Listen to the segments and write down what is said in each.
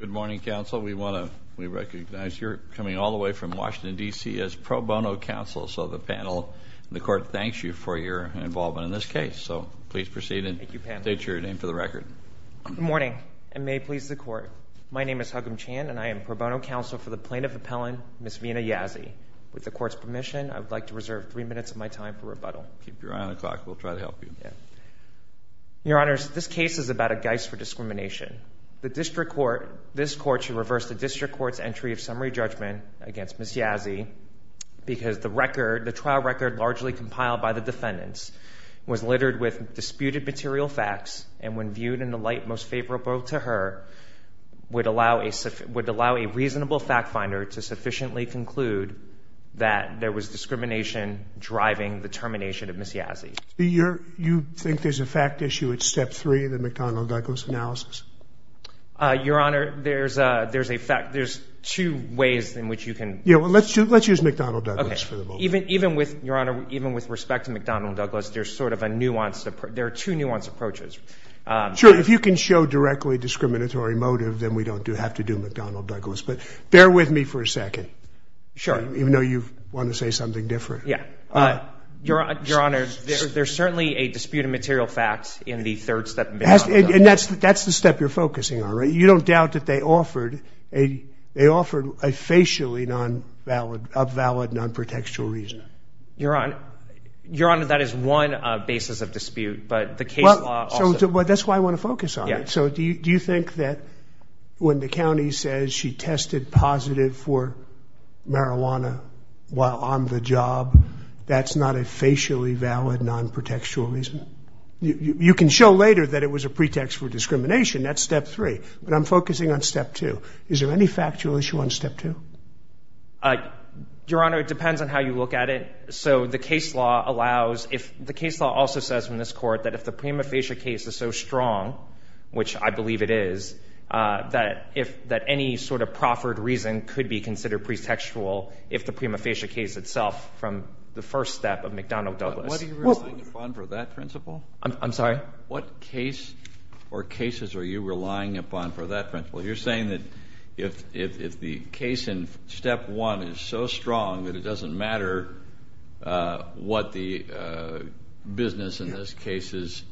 Good morning, counsel. We recognize you're coming all the way from Washington, D.C. as pro bono counsel, so the panel and the court thanks you for your involvement in this case. So please proceed and state your name for the record. Good morning, and may it please the court. My name is Hugum Chan, and I am pro bono counsel for the plaintiff appellant, Ms. Vina Yazzie. With the court's permission, I would like to reserve three minutes of my time for rebuttal. Keep your eye on the clock. We'll try to help you. Your Honor, this case is about a guise for discrimination. This court should reverse the district court's entry of summary judgment against Ms. Yazzie, because the trial record largely compiled by the defendants was littered with disputed material facts, and when viewed in the light most favorable to her, would allow a reasonable fact finder to sufficiently conclude that there was discrimination driving the termination of Ms. Yazzie. Do you think there's a fact issue at step three in the McDonnell-Douglas analysis? Your Honor, there's two ways in which you can. Yeah, well, let's use McDonnell-Douglas for the moment. Even with respect to McDonnell-Douglas, there are two nuanced approaches. Sure, if you can show directly discriminatory motive, then we don't have to do McDonnell-Douglas, but bear with me for a second. Sure. Even though you want to say something different. Yeah. Your Honor, there's certainly a disputed material fact in the third step of McDonnell-Douglas. And that's the step you're focusing on, right? You don't doubt that they offered a facially non-valid, up-valid, non-protextual reason. Your Honor, that is one basis of dispute, but the case law also. Well, that's why I want to focus on it. So do you think that when the county says she tested positive for marijuana while on the job, that's not a facially valid non-protextual reason? You can show later that it was a pretext for discrimination. That's step three. But I'm focusing on step two. Is there any factual issue on step two? Your Honor, it depends on how you look at it. The case law also says in this court that if the prima facie case is so strong, which I believe it is, that any sort of proffered reason could be considered pretextual if the prima facie case itself from the first step of McDonnell-Douglas. What are you relying upon for that principle? I'm sorry? What case or cases are you relying upon for that principle? You're saying that if the case in step one is so strong that it doesn't matter what the business in this case's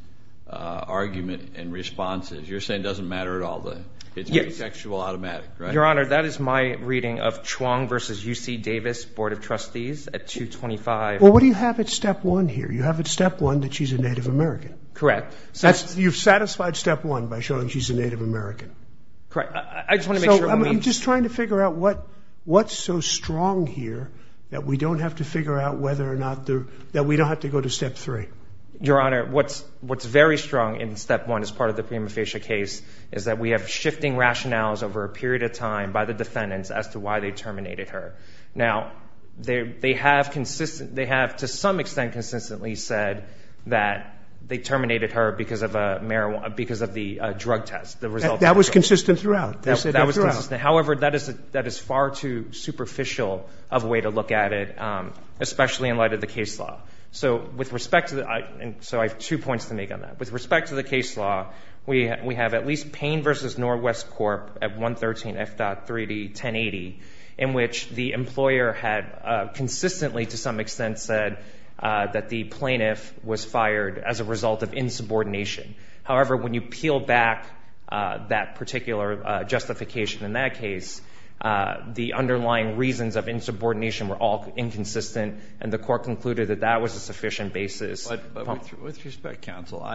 argument and response is. You're saying it doesn't matter at all. It's pretextual automatic, right? Your Honor, that is my reading of Chuong v. UC Davis Board of Trustees at 225. Well, what do you have at step one here? You have at step one that she's a Native American. Correct. You've satisfied step one by showing she's a Native American. Correct. I just want to make sure. I'm just trying to figure out what's so strong here that we don't have to figure out whether or not we don't have to go to step three. Your Honor, what's very strong in step one as part of the prima facie case is that we have shifting rationales over a period of time by the defendants as to why they terminated her. Now, they have to some extent consistently said that they terminated her because of the drug test. That was consistent throughout. However, that is far too superficial of a way to look at it, especially in light of the case law. So with respect to the ‑‑ so I have two points to make on that. With respect to the case law, we have at least Payne v. Norwest Corp. at 113 F.3D 1080, in which the employer had consistently to some extent said that the plaintiff was fired as a result of insubordination. However, when you peel back that particular justification in that case, the underlying reasons of insubordination were all inconsistent, and the court concluded that that was a sufficient basis. But with respect, counsel,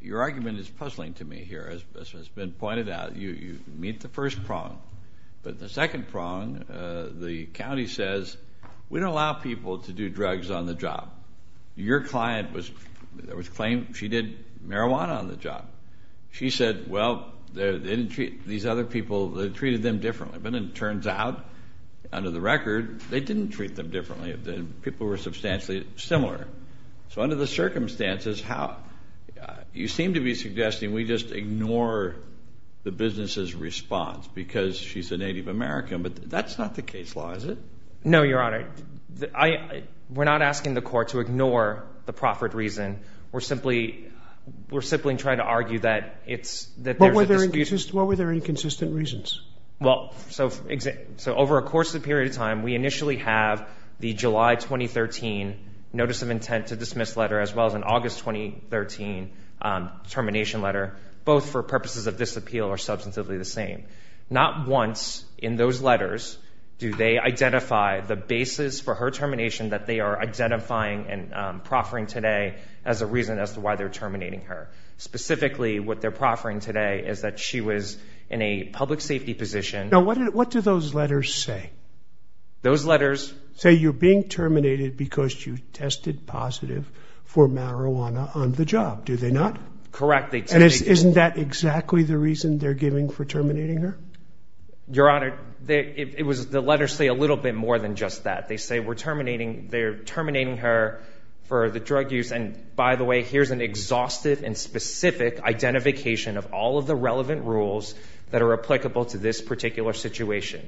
your argument is puzzling to me here, as has been pointed out. You meet the first prong. But the second prong, the county says, we don't allow people to do drugs on the job. Your client was claimed she did marijuana on the job. She said, well, they didn't treat these other people, they treated them differently. But it turns out, under the record, they didn't treat them differently. The people were substantially similar. So under the circumstances, you seem to be suggesting we just ignore the business's response because she's a Native American. But that's not the case law, is it? No, Your Honor. We're not asking the court to ignore the proffered reason. We're simply trying to argue that there's a dispute. What were their inconsistent reasons? Well, so over a course of a period of time, we initially have the July 2013 notice of intent to dismiss letter, as well as an August 2013 termination letter, both for purposes of this appeal are substantively the same. Not once in those letters do they identify the basis for her termination that they are identifying and proffering today as a reason as to why they're terminating her. Specifically, what they're proffering today is that she was in a public safety position. Now, what do those letters say? Those letters? Say you're being terminated because you tested positive for marijuana on the job. Do they not? Correct. Isn't that exactly the reason they're giving for terminating her? Your Honor, the letters say a little bit more than just that. They say they're terminating her for the drug use, and by the way, here's an exhaustive and specific identification of all of the relevant rules that are applicable to this particular situation.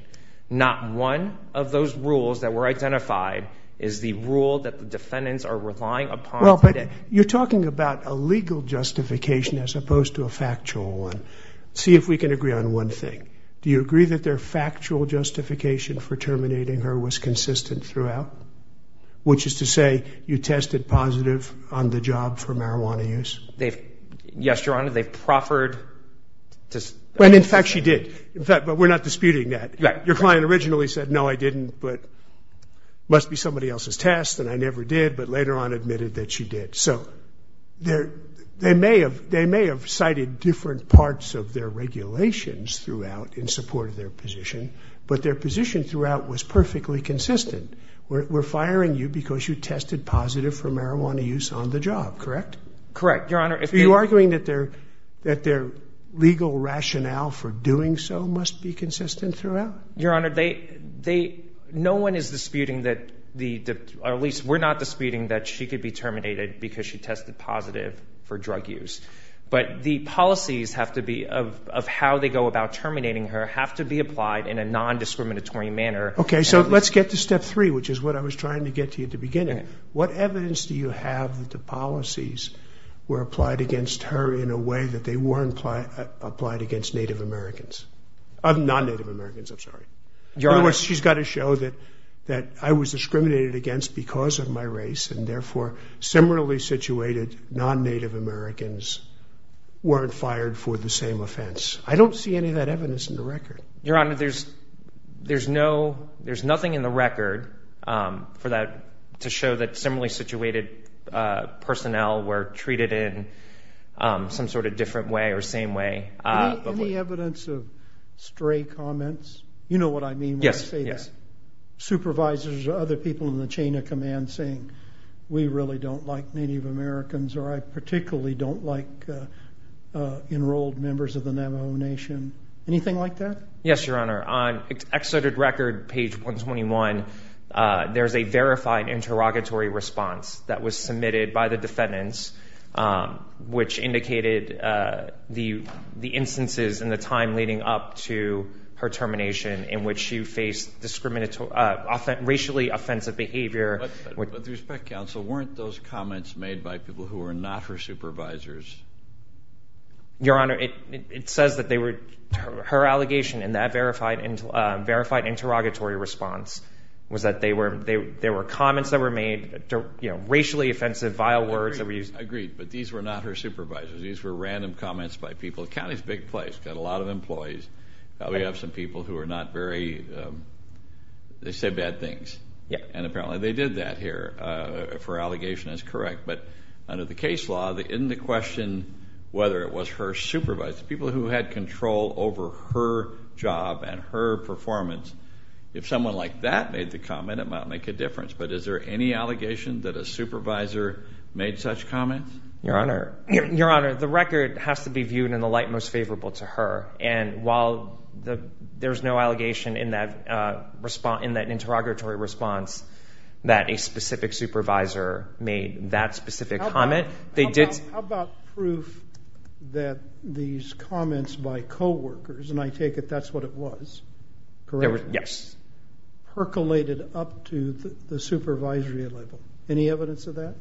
Not one of those rules that were identified is the rule that the defendants are relying upon today. Your Honor, you're talking about a legal justification as opposed to a factual one. See if we can agree on one thing. Do you agree that their factual justification for terminating her was consistent throughout, which is to say you tested positive on the job for marijuana use? Yes, Your Honor, they proffered. In fact, she did, but we're not disputing that. Your client originally said, no, I didn't, but it must be somebody else's test, and I never did, but later on admitted that she did. So they may have cited different parts of their regulations throughout in support of their position, but their position throughout was perfectly consistent. We're firing you because you tested positive for marijuana use on the job, correct? Correct, Your Honor. So you're arguing that their legal rationale for doing so must be consistent throughout? Your Honor, no one is disputing that, or at least we're not disputing that she could be terminated because she tested positive for drug use. But the policies have to be, of how they go about terminating her, have to be applied in a non-discriminatory manner. Okay, so let's get to step three, which is what I was trying to get to at the beginning. What evidence do you have that the policies were applied against her in a way that they weren't applied against non-Native Americans? In other words, she's got to show that I was discriminated against because of my race, and therefore similarly situated non-Native Americans weren't fired for the same offense. I don't see any of that evidence in the record. Your Honor, there's nothing in the record to show that similarly situated personnel were treated in some sort of different way or same way. Any evidence of stray comments? You know what I mean when I say that. Yes, yes. Supervisors or other people in the chain of command saying, we really don't like Native Americans or I particularly don't like enrolled members of the Navajo Nation. Anything like that? Yes, Your Honor. On exodid record, page 121, there's a verified interrogatory response that was submitted by the defendants, which indicated the instances in the time leading up to her termination in which she faced racially offensive behavior. With respect, counsel, weren't those comments made by people who were not her supervisors? Your Honor, it says that her allegation in that verified interrogatory response was that there were comments that were made, racially offensive, vile words that were used. I agree, but these were not her supervisors. These were random comments by people. The county's a big place, got a lot of employees. We have some people who are not very, they say bad things. And apparently they did that here for allegation as correct. But under the case law, in the question whether it was her supervisors, people who had control over her job and her performance, if someone like that made the comment, it might make a difference. But is there any allegation that a supervisor made such comments? Your Honor, the record has to be viewed in the light most favorable to her. And while there's no allegation in that interrogatory response that a specific supervisor made that specific comment, they did. How about proof that these comments by coworkers, and I take it that's what it was, correct? Yes. Herculated up to the supervisory level. Any evidence of that?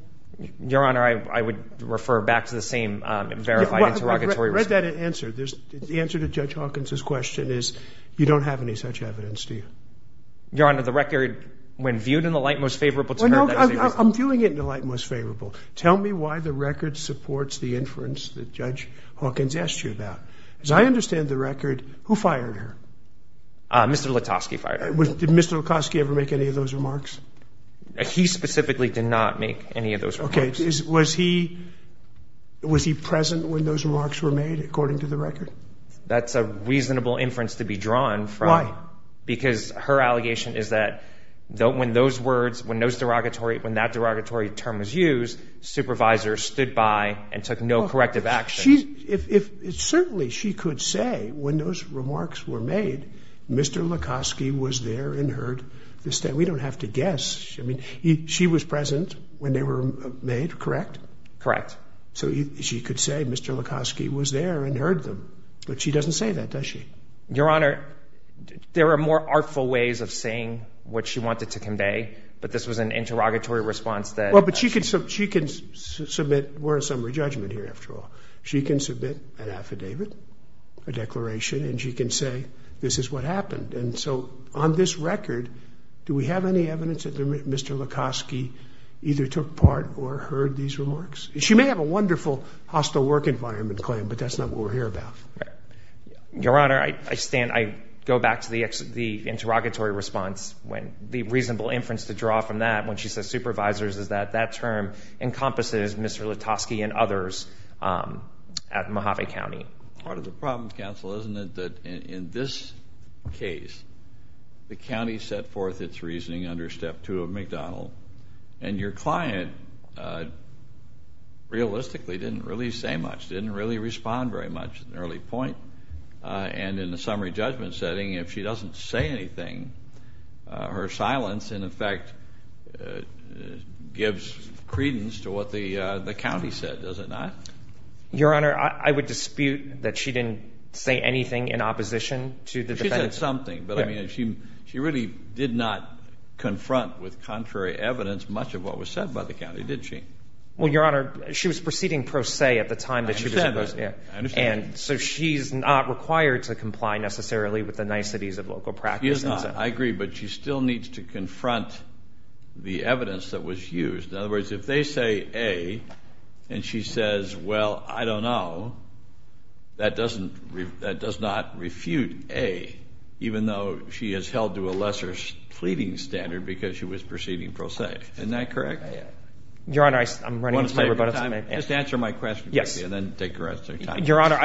Your Honor, I would refer back to the same verified interrogatory response. I read that answer. The answer to Judge Hawkins' question is you don't have any such evidence, do you? Your Honor, the record, when viewed in the light most favorable to her. I'm viewing it in the light most favorable. Tell me why the record supports the inference that Judge Hawkins asked you about. As I understand the record, who fired her? Mr. Latosky fired her. Did Mr. Latosky ever make any of those remarks? He specifically did not make any of those remarks. Okay. Was he present when those remarks were made, according to the record? That's a reasonable inference to be drawn from. Why? Because her allegation is that when those words, when that interrogatory term was used, supervisors stood by and took no corrective action. Certainly, she could say when those remarks were made, Mr. Latosky was there and heard. We don't have to guess. I mean, she was present when they were made, correct? Correct. So she could say Mr. Latosky was there and heard them, but she doesn't say that, does she? Your Honor, there are more artful ways of saying what she wanted to convey, but this was an interrogatory response that— Well, but she can submit—we're in summary judgment here, after all. She can submit an affidavit, a declaration, and she can say this is what happened. And so on this record, do we have any evidence that Mr. Latosky either took part or heard these remarks? She may have a wonderful hostile work environment claim, but that's not what we're here about. Your Honor, I stand—I go back to the interrogatory response when the reasonable inference to draw from that, when she says supervisors, is that that term encompasses Mr. Latosky and others at Mojave County. But part of the problem, counsel, isn't it that in this case, the county set forth its reasoning under Step 2 of McDonald, and your client realistically didn't really say much, didn't really respond very much at an early point. And in the summary judgment setting, if she doesn't say anything, her silence, in effect, gives credence to what the county said, does it not? Your Honor, I would dispute that she didn't say anything in opposition to the defense. She said something, but, I mean, she really did not confront with contrary evidence much of what was said by the county, did she? Well, your Honor, she was proceeding pro se at the time that she was— I understand that. I understand that. And so she's not required to comply necessarily with the niceties of local practice. She's not. I agree, but she still needs to confront the evidence that was used. In other words, if they say A, and she says, well, I don't know, that does not refute A, even though she is held to a lesser pleading standard because she was proceeding pro se. Isn't that correct? Your Honor, I'm running out of time. Just answer my question quickly and then take the rest of your time. Your Honor,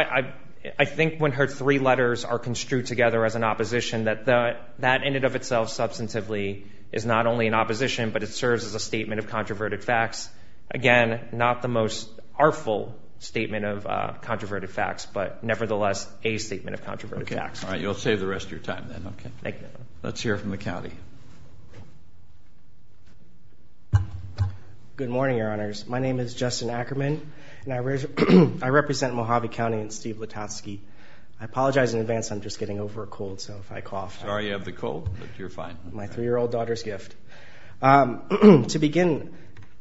I think when her three letters are construed together as an opposition, that that in and of itself substantively is not only an opposition, but it serves as a statement of controverted facts. Again, not the most artful statement of controverted facts, but nevertheless, a statement of controverted facts. Okay. All right. You'll save the rest of your time then. Okay. Thank you. Let's hear from the county. Good morning, Your Honors. My name is Justin Ackerman, and I represent Mojave County and Steve Letosky. I apologize in advance. I'm just getting over a cold, so if I cough. Sorry you have the cold, but you're fine. My three-year-old daughter's gift. To begin,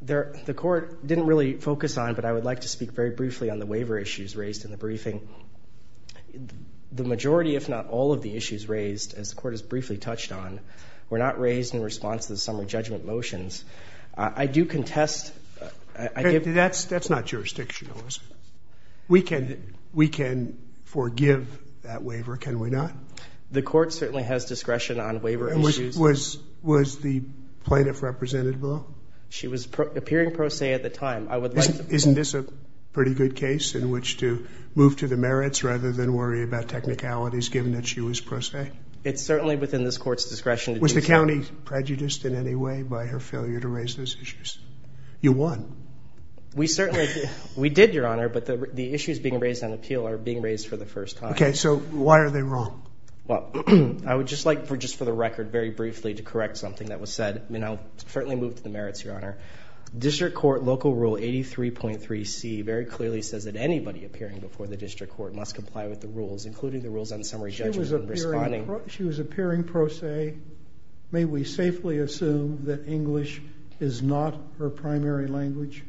the Court didn't really focus on, but I would like to speak very briefly on the waiver issues raised in the briefing. The majority, if not all, of the issues raised, as the Court has briefly touched on, were not raised in response to the summer judgment motions. I do contest. That's not jurisdictional, is it? We can forgive that waiver, can we not? The Court certainly has discretion on waiver issues. Was the plaintiff represented below? She was appearing pro se at the time. Isn't this a pretty good case in which to move to the merits rather than worry about technicalities, given that she was pro se? It's certainly within this Court's discretion to do so. Was the county prejudiced in any way by her failure to raise those issues? You won. We certainly did, Your Honor, but the issues being raised on appeal are being raised for the first time. Okay, so why are they wrong? Well, I would just like, just for the record, very briefly to correct something that was said. I'll certainly move to the merits, Your Honor. District Court Local Rule 83.3c very clearly says that anybody appearing before the District Court must comply with the rules, including the rules on summary judgment and responding. She was appearing pro se. May we safely assume that English is not her primary language?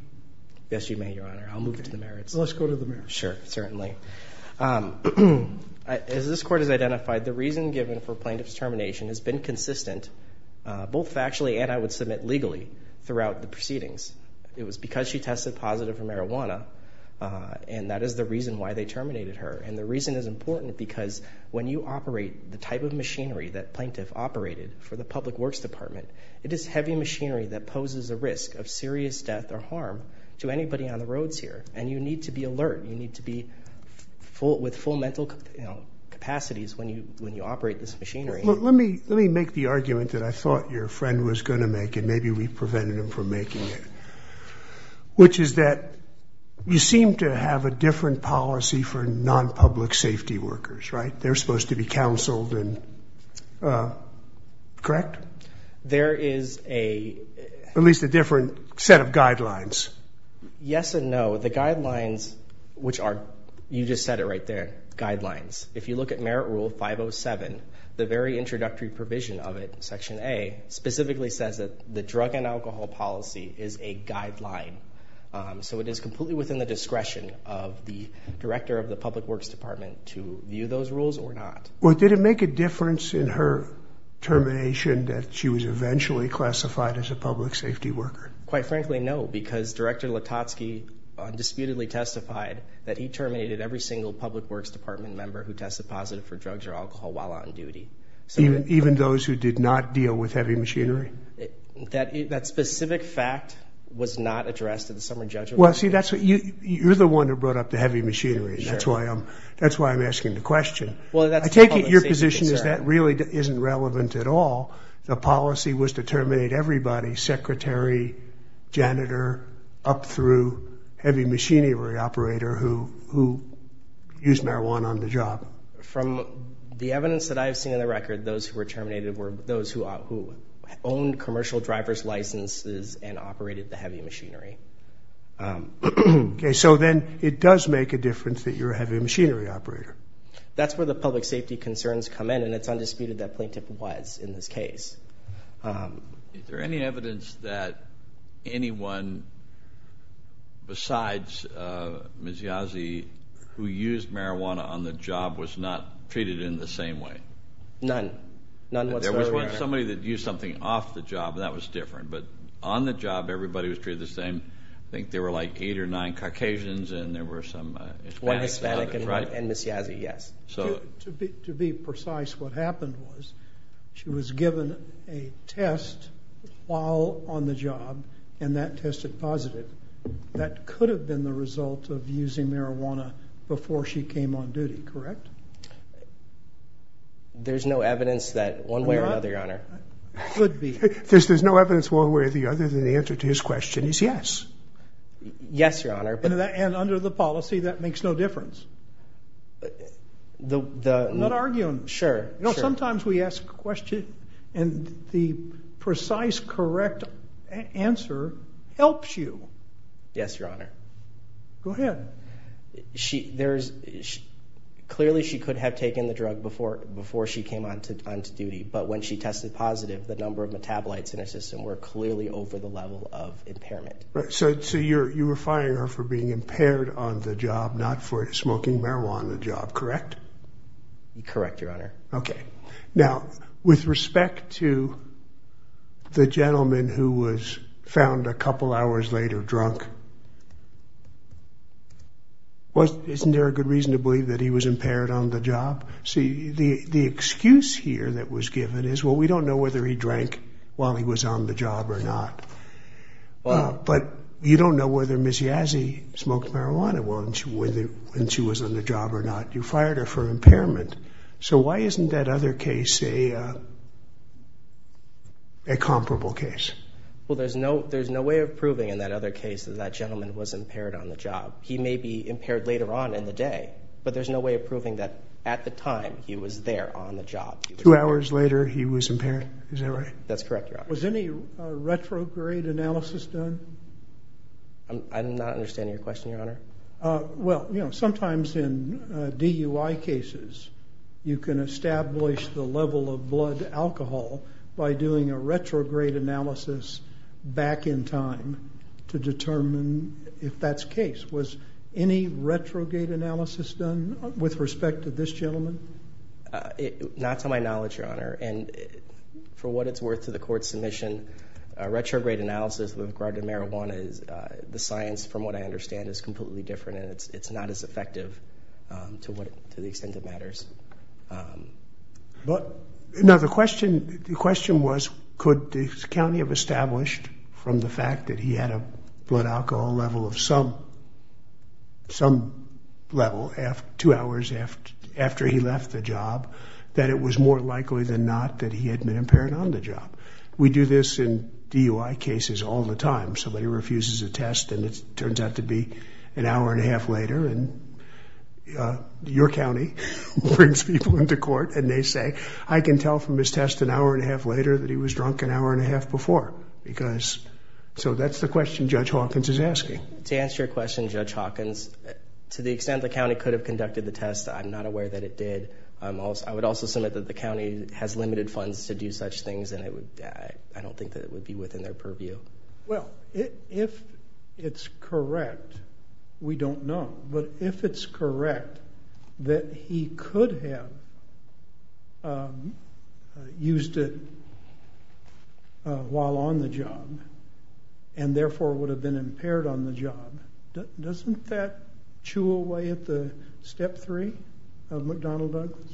Yes, you may, Your Honor. I'll move to the merits. Let's go to the merits. Sure, certainly. As this Court has identified, the reason given for plaintiff's termination has been consistent, both factually and, I would submit, legally, throughout the proceedings. It was because she tested positive for marijuana, and that is the reason why they terminated her. And the reason is important because when you operate the type of machinery that plaintiff operated for the Public Works Department, it is heavy machinery that poses a risk of serious death or harm to anybody on the roads here. And you need to be alert. You need to be with full mental capacities when you operate this machinery. Let me make the argument that I thought your friend was going to make, and maybe we prevented him from making it, which is that you seem to have a different policy for non-public safety workers, right? They're supposed to be counseled, correct? There is a... At least a different set of guidelines. Yes and no. The guidelines, which are, you just said it right there, guidelines. If you look at Merit Rule 507, the very introductory provision of it, Section A, specifically says that the drug and alcohol policy is a guideline. So it is completely within the discretion of the director of the Public Works Department to view those rules or not. Well, did it make a difference in her termination that she was eventually classified as a public safety worker? Quite frankly, no, because Director Latosky undisputedly testified that he terminated every single Public Works Department member who tested positive for drugs or alcohol while on duty. Even those who did not deal with heavy machinery? That specific fact was not addressed in the summer judgment. Well, see, you're the one who brought up the heavy machinery. That's why I'm asking the question. I take it your position is that really isn't relevant at all. The policy was to terminate everybody, secretary, janitor, up through heavy machinery operator who used marijuana on the job. From the evidence that I've seen on the record, those who were terminated were those who owned commercial driver's licenses and operated the heavy machinery. Okay, so then it does make a difference that you're a heavy machinery operator. That's where the public safety concerns come in, and it's undisputed that Plaintiff was in this case. Is there any evidence that anyone besides Ms. Yazzie who used marijuana on the job was not treated in the same way? None. There was somebody that used something off the job, and that was different. But on the job, everybody was treated the same. I think there were like eight or nine Caucasians, and there were some Hispanics. And Ms. Yazzie, yes. To be precise, what happened was she was given a test while on the job, and that tested positive. That could have been the result of using marijuana before she came on duty, correct? There's no evidence that one way or another, Your Honor. Could be. There's no evidence one way or the other, then the answer to his question is yes. Yes, Your Honor. And under the policy, that makes no difference? I'm not arguing. Sure. Sometimes we ask a question, and the precise, correct answer helps you. Yes, Your Honor. Go ahead. Clearly she could have taken the drug before she came on to duty, but when she tested positive, So you were firing her for being impaired on the job, not for smoking marijuana on the job, correct? Correct, Your Honor. Okay. Now, with respect to the gentleman who was found a couple hours later drunk, isn't there a good reason to believe that he was impaired on the job? See, the excuse here that was given is, well, we don't know whether he drank while he was on the job or not. But you don't know whether Ms. Yazzie smoked marijuana when she was on the job or not. You fired her for impairment. So why isn't that other case a comparable case? Well, there's no way of proving in that other case that that gentleman was impaired on the job. He may be impaired later on in the day, but there's no way of proving that at the time he was there on the job. Two hours later, he was impaired. Is that right? That's correct, Your Honor. Was any retrograde analysis done? I'm not understanding your question, Your Honor. Well, sometimes in DUI cases, you can establish the level of blood alcohol by doing a retrograde analysis back in time to determine if that's case. Was any retrograde analysis done with respect to this gentleman? Not to my knowledge, Your Honor. And for what it's worth to the court's submission, a retrograde analysis with regard to marijuana is the science, from what I understand, is completely different, and it's not as effective to the extent it matters. Now, the question was could the county have established from the fact that he had a blood alcohol level of some level two hours after he left the job that it was more likely than not that he had been impaired on the job? We do this in DUI cases all the time. Somebody refuses a test and it turns out to be an hour and a half later, and your county brings people into court and they say, I can tell from his test an hour and a half later that he was drunk an hour and a half before. So that's the question Judge Hawkins is asking. To answer your question, Judge Hawkins, to the extent the county could have conducted the test, I'm not aware that it did. I would also submit that the county has limited funds to do such things, and I don't think that it would be within their purview. Well, if it's correct, we don't know, but if it's correct that he could have used it while on the job and therefore would have been impaired on the job, doesn't that chew away at the step three of McDonnell Douglas?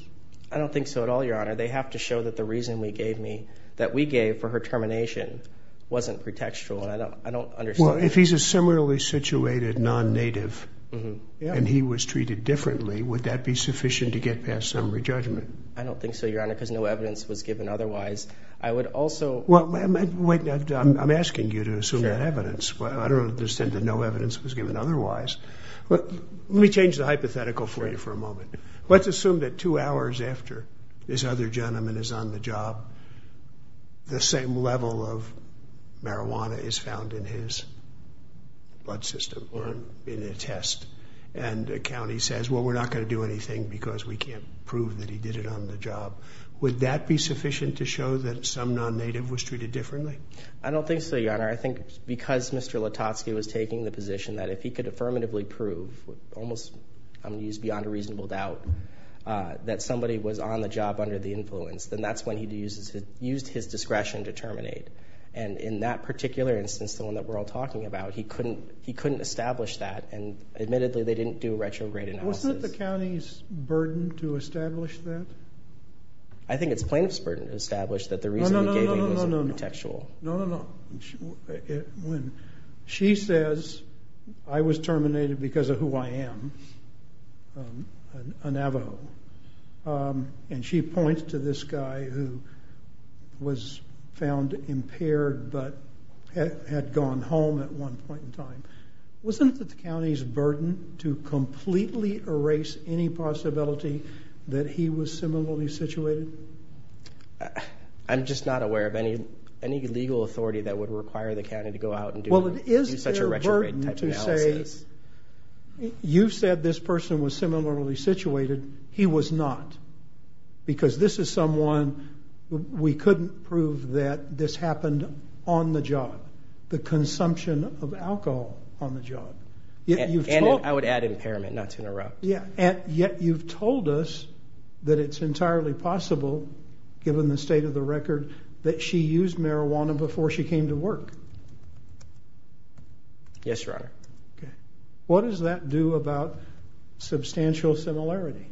I don't think so at all, Your Honor. They have to show that the reason we gave for her termination wasn't pretextual, and I don't understand. Well, if he's a similarly situated non-native and he was treated differently, would that be sufficient to get past summary judgment? I don't think so, Your Honor, because no evidence was given otherwise. Well, I'm asking you to assume that evidence. I don't understand that no evidence was given otherwise. Let me change the hypothetical for you for a moment. Let's assume that two hours after this other gentleman is on the job, the same level of marijuana is found in his blood system or in a test, and the county says, well, we're not going to do anything because we can't prove that he did it on the job. Would that be sufficient to show that some non-native was treated differently? I don't think so, Your Honor. I think because Mr. Latosky was taking the position that if he could affirmatively prove almost, I'm going to use beyond a reasonable doubt, that somebody was on the job under the influence, then that's when he used his discretion to terminate, and in that particular instance, the one that we're all talking about, he couldn't establish that, and admittedly they didn't do a retrograde analysis. Wasn't it the county's burden to establish that? I think it's plaintiff's burden to establish that the reason he gave it was contextual. No, no, no. When she says, I was terminated because of who I am, a Navajo, and she points to this guy who was found impaired but had gone home at one point in time, wasn't it the county's burden to completely erase any possibility that he was similarly situated? I'm just not aware of any legal authority that would require the county to go out and do such a retrograde type analysis. Well, it is their burden to say, you said this person was similarly situated. He was not because this is someone we couldn't prove that this happened on the job. The consumption of alcohol on the job. I would add impairment, not to interrupt. Yet you've told us that it's entirely possible, given the state of the record, that she used marijuana before she came to work. Yes, Your Honor. What does that do about substantial similarity?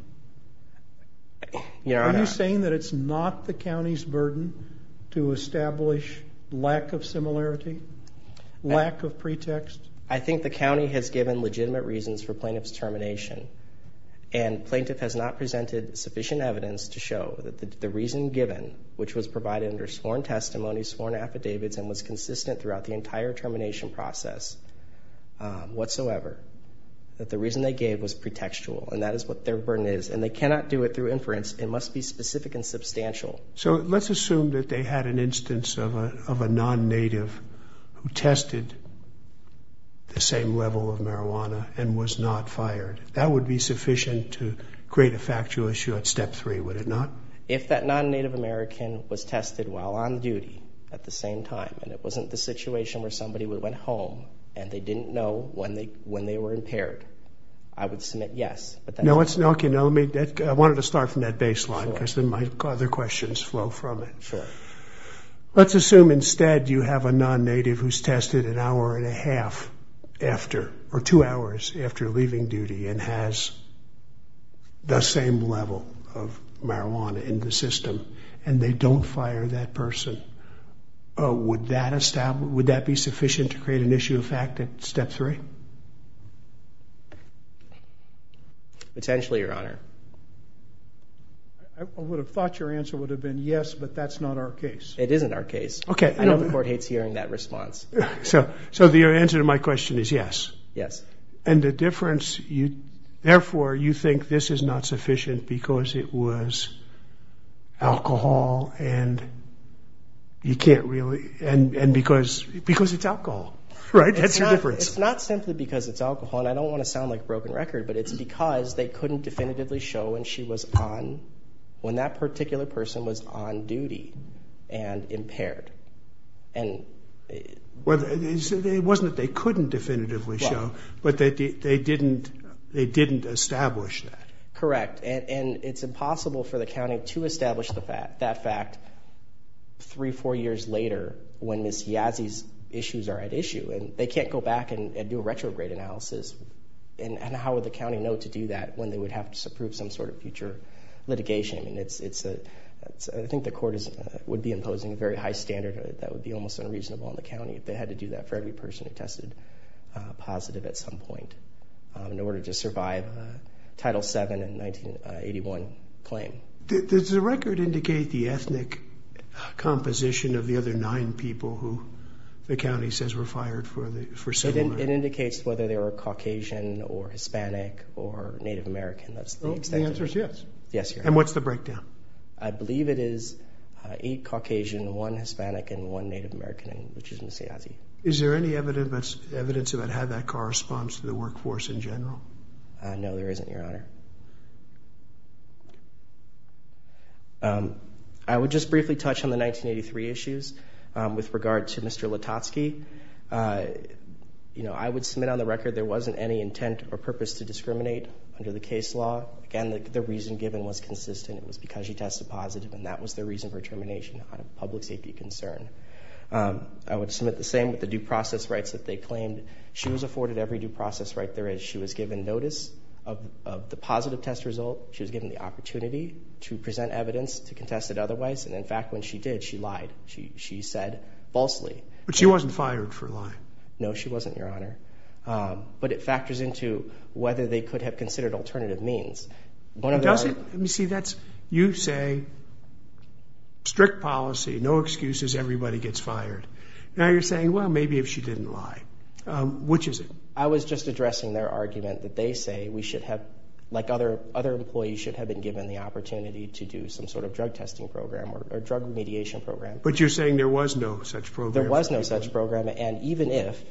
Are you saying that it's not the county's burden to establish lack of similarity, lack of pretext? I think the county has given legitimate reasons for plaintiff's termination, and plaintiff has not presented sufficient evidence to show that the reason given, which was provided under sworn testimony, sworn affidavits, and was consistent throughout the entire termination process whatsoever, that the reason they gave was pretextual, and that is what their burden is, and they cannot do it through inference. It must be specific and substantial. So let's assume that they had an instance of a non-Native who tested the same level of marijuana and was not fired. That would be sufficient to create a factual issue at step three, would it not? If that non-Native American was tested while on duty at the same time, and it wasn't the situation where somebody went home and they didn't know when they were impaired, I would submit yes. Okay, I wanted to start from that baseline because then my other questions flow from it. Sure. Let's assume instead you have a non-Native who's tested an hour and a half after, or two hours after leaving duty and has the same level of marijuana in the system, and they don't fire that person. Would that be sufficient to create an issue of fact at step three? Potentially, Your Honor. I would have thought your answer would have been yes, but that's not our case. It isn't our case. I know the court hates hearing that response. So the answer to my question is yes? Yes. And the difference, therefore, you think this is not sufficient because it was alcohol and you can't really, and because it's alcohol, right? That's your difference. It's not simply because it's alcohol, and I don't want to sound like a broken record, but it's because they couldn't definitively show when she was on, when that particular person was on duty and impaired. Well, it wasn't that they couldn't definitively show, but they didn't establish that. Correct. And it's impossible for the county to establish that fact three, four years later when Ms. Yazzie's issues are at issue. And they can't go back and do a retrograde analysis. And how would the county know to do that when they would have to approve some sort of future litigation? I think the court would be imposing a very high standard that would be almost unreasonable in the county if they had to do that for every person who tested positive at some point in order to survive a Title VII in 1981 claim. Does the record indicate the ethnic composition of the other nine people who the county says were fired for civil rights? It indicates whether they were Caucasian or Hispanic or Native American. The answer is yes. Yes, Your Honor. And what's the breakdown? I believe it is eight Caucasian, one Hispanic, and one Native American, which is Ms. Yazzie. Is there any evidence about how that corresponds to the workforce in general? No, there isn't, Your Honor. I would just briefly touch on the 1983 issues with regard to Mr. Latosky. I would submit on the record there wasn't any intent or purpose to discriminate under the case law. Again, the reason given was consistent. It was because she tested positive, and that was the reason for termination, out of public safety concern. I would submit the same with the due process rights that they claimed. She was afforded every due process right there is. She was given notice of the positive test result. She was given the opportunity to present evidence to contest it otherwise. And, in fact, when she did, she lied. She said falsely. But she wasn't fired for lying. No, she wasn't, Your Honor. But it factors into whether they could have considered alternative means. Let me see. You say strict policy, no excuses, everybody gets fired. Now you're saying, well, maybe if she didn't lie. Which is it? I was just addressing their argument that they say we should have, like other employees, should have been given the opportunity to do some sort of drug testing program or drug remediation program. But you're saying there was no such program. There was no such program. And even if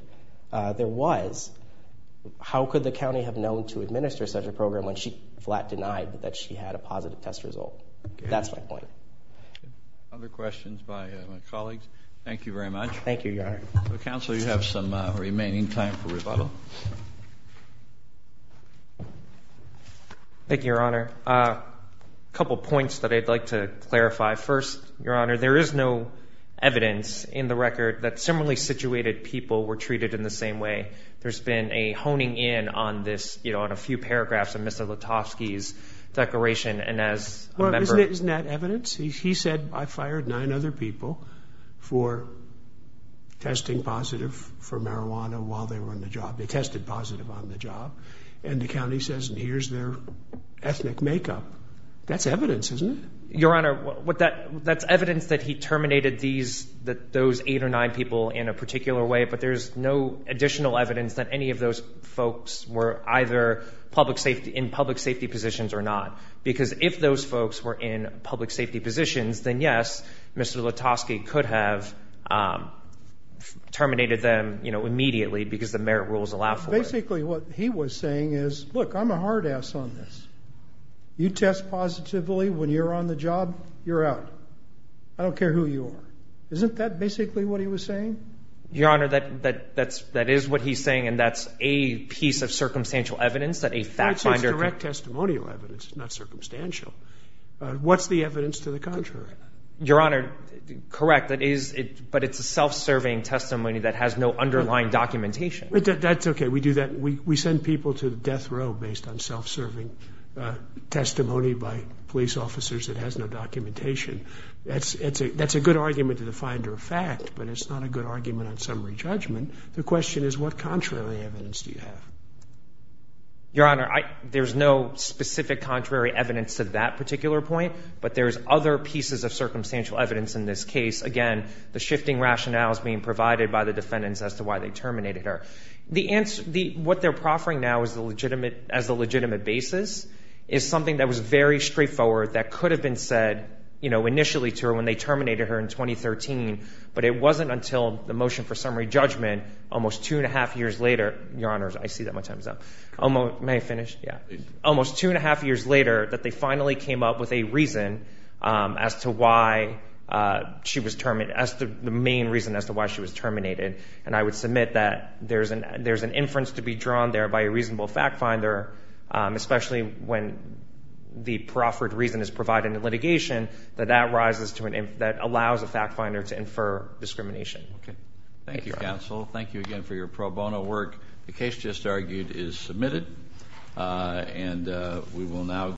there was, how could the county have known to administer such a program when she flat denied that she had a positive test result? That's my point. Other questions by my colleagues? Thank you very much. Thank you, Your Honor. Counsel, you have some remaining time for rebuttal. A couple points that I'd like to clarify. First, Your Honor, there is no evidence in the record that similarly situated people were treated in the same way. There's been a honing in on this, you know, on a few paragraphs of Mr. Lutovsky's declaration. Isn't that evidence? He said, I fired nine other people for testing positive for marijuana while they were on the job. They tested positive on the job. And the county says, here's their ethnic makeup. That's evidence, isn't it? Your Honor, that's evidence that he terminated those eight or nine people in a particular way, but there's no additional evidence that any of those folks were either in public safety positions or not. Because if those folks were in public safety positions, then, yes, Mr. Lutovsky could have terminated them immediately because the merit rules allow for it. Basically what he was saying is, look, I'm a hard ass on this. You test positively when you're on the job, you're out. I don't care who you are. Isn't that basically what he was saying? Your Honor, that is what he's saying, and that's a piece of circumstantial evidence that a fact finder can It's direct testimonial evidence, not circumstantial. What's the evidence to the contrary? Your Honor, correct, but it's a self-serving testimony that has no underlying documentation. That's okay. We do that. We send people to death row based on self-serving testimony by police officers that has no documentation. That's a good argument to the finder of fact, but it's not a good argument on summary judgment. The question is, what contrary evidence do you have? Your Honor, there's no specific contrary evidence to that particular point, but there's other pieces of circumstantial evidence in this case. Again, the shifting rationale is being provided by the defendants as to why they terminated her. What they're proffering now as the legitimate basis is something that was very straightforward that could have been said initially to her when they terminated her in 2013, but it wasn't until the motion for summary judgment almost two and a half years later Your Honor, I see that my time is up. May I finish? Yeah. Almost two and a half years later that they finally came up with a reason as to why she was terminated, the main reason as to why she was terminated, and I would submit that there's an inference to be drawn there by a reasonable fact finder, especially when the proffered reason is provided in litigation, that that allows a fact finder to infer discrimination. Thank you, counsel. Thank you again for your pro bono work. The case just argued is submitted, and we will now.